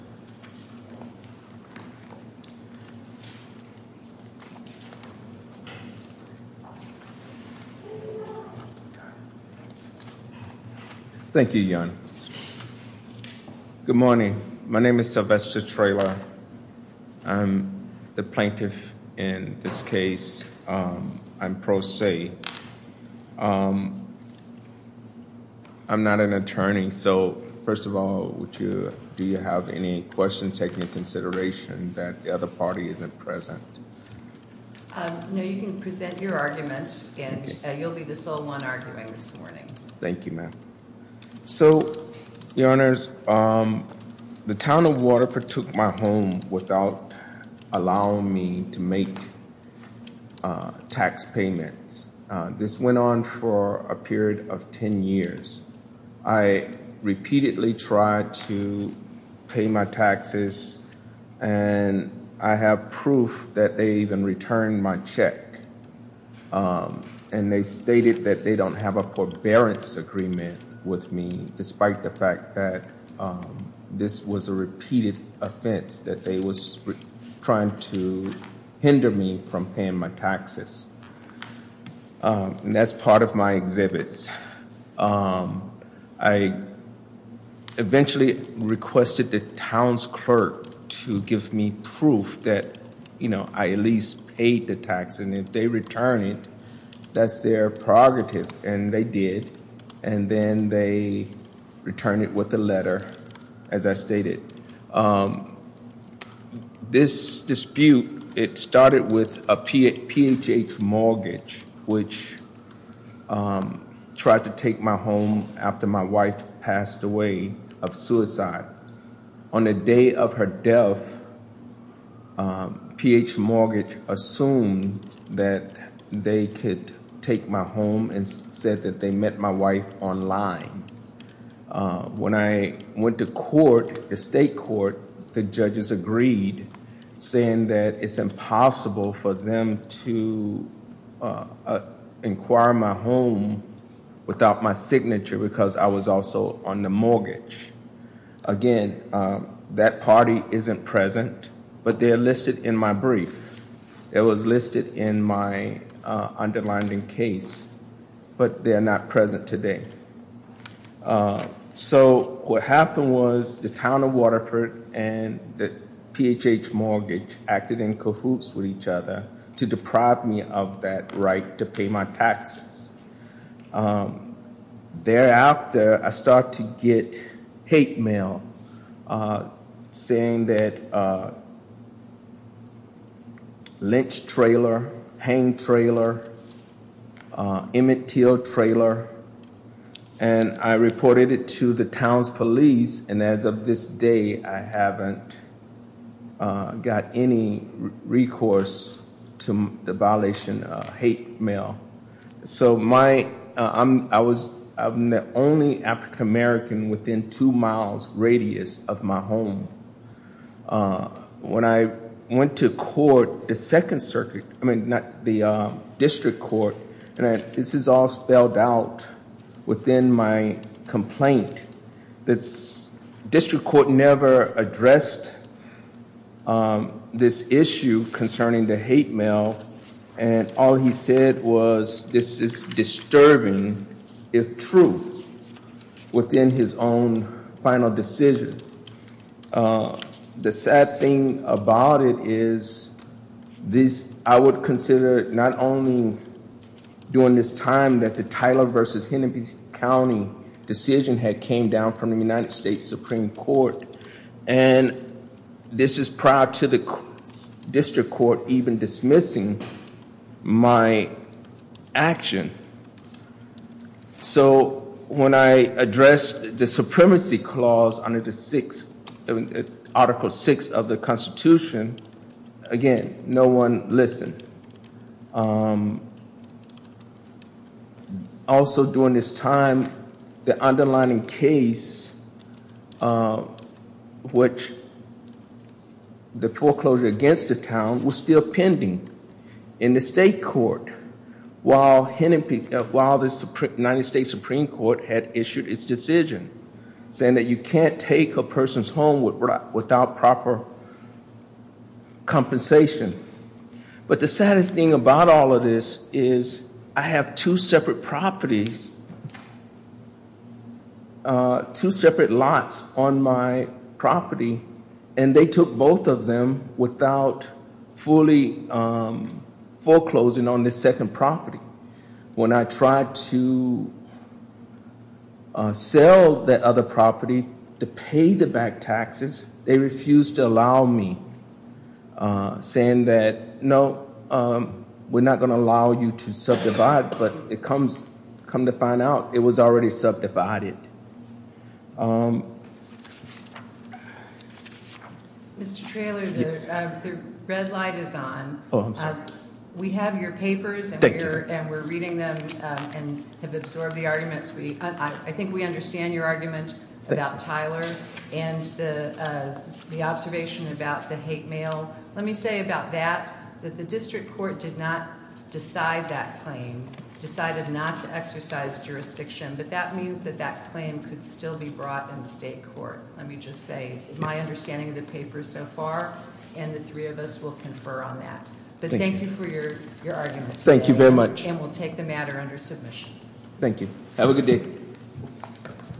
Thank you, Jan. Good morning. My name is Sylvester Traylor. I'm the plaintiff in this case. I'm I'm not an attorney, so first of all, do you have any questions taking into consideration that the other party isn't present? No, you can present your argument, and you'll be the sole one arguing this morning. Thank you, ma'am. So, your honors, the town of Waterford took my home without allowing me to make tax payments. This went on for a period of 10 years. I repeatedly tried to pay my taxes, and I have proof that they even returned my check. And they stated that they don't have a forbearance agreement with me, despite the fact that this was a repeated offense that they were trying to hinder me from paying my taxes. And that's part of my exhibits. I eventually requested the town's clerk to give me proof that, you know, I at least paid the tax, and if they return it, that's their prerogative. And they did, and then they returned it with a letter, as I stated. This dispute, it started with a PHH mortgage, which tried to take my home after my wife passed away of suicide. On the day of her death, PHH mortgage assumed that they could take my home and said that they met my wife online. When I went to court, the state court, the judges agreed, saying that it's impossible for them to inquire my home without my signature because I was also on the mortgage. Again, that party isn't present, but they are listed in my brief. It was listed in my underlining case, but they are not present today. So what happened was the town of Waterford and the PHH mortgage acted in cahoots with each other to deprive me of that right to pay my taxes. Thereafter, I started to get hate mail saying that lynch trailer, hang trailer, Emmett Till trailer, and I reported it to the town's police, and as of this day, I haven't got any recourse to the violation of hate mail. I'm the only African American within two miles radius of my home. When I went to court, the district court, and this is all spelled out within my complaint. The district court never addressed this issue concerning the hate mail, and all he said was this is disturbing, if true, within his own final decision. The sad thing about it is I would consider not only during this time that the Tyler versus Hennepin County decision had came down from the United States Supreme Court, and this is prior to the district court even dismissing my action. So when I addressed the supremacy clause under the article six of the constitution, again, no one listened. Also during this time, the underlining case, which the foreclosure against the town was still pending in the state court while the United States Supreme Court had issued its decision, saying that you can't take a person's home without proper compensation. But the saddest thing about all of this is I have two separate properties, two separate lots on my property, and they took both of them without fully foreclosing on this second property. When I tried to sell the other property to pay the back taxes, they refused to allow me, saying that no, we're not going to allow you to subdivide, but come to find out, it was already subdivided. Mr. Traylor, the red light is on. Oh, I'm sorry. We have your papers and we're reading them and have absorbed the arguments. I think we understand your argument about Tyler and the observation about the hate mail. Let me say about that, that the district court did not decide that claim, decided not to exercise jurisdiction, but that means that that claim could still be brought in state court. Let me just say my understanding of the papers so far, and the three of us will confer on that. But thank you for your arguments. Thank you very much. And we'll take the matter under submission. Thank you. Have a good day.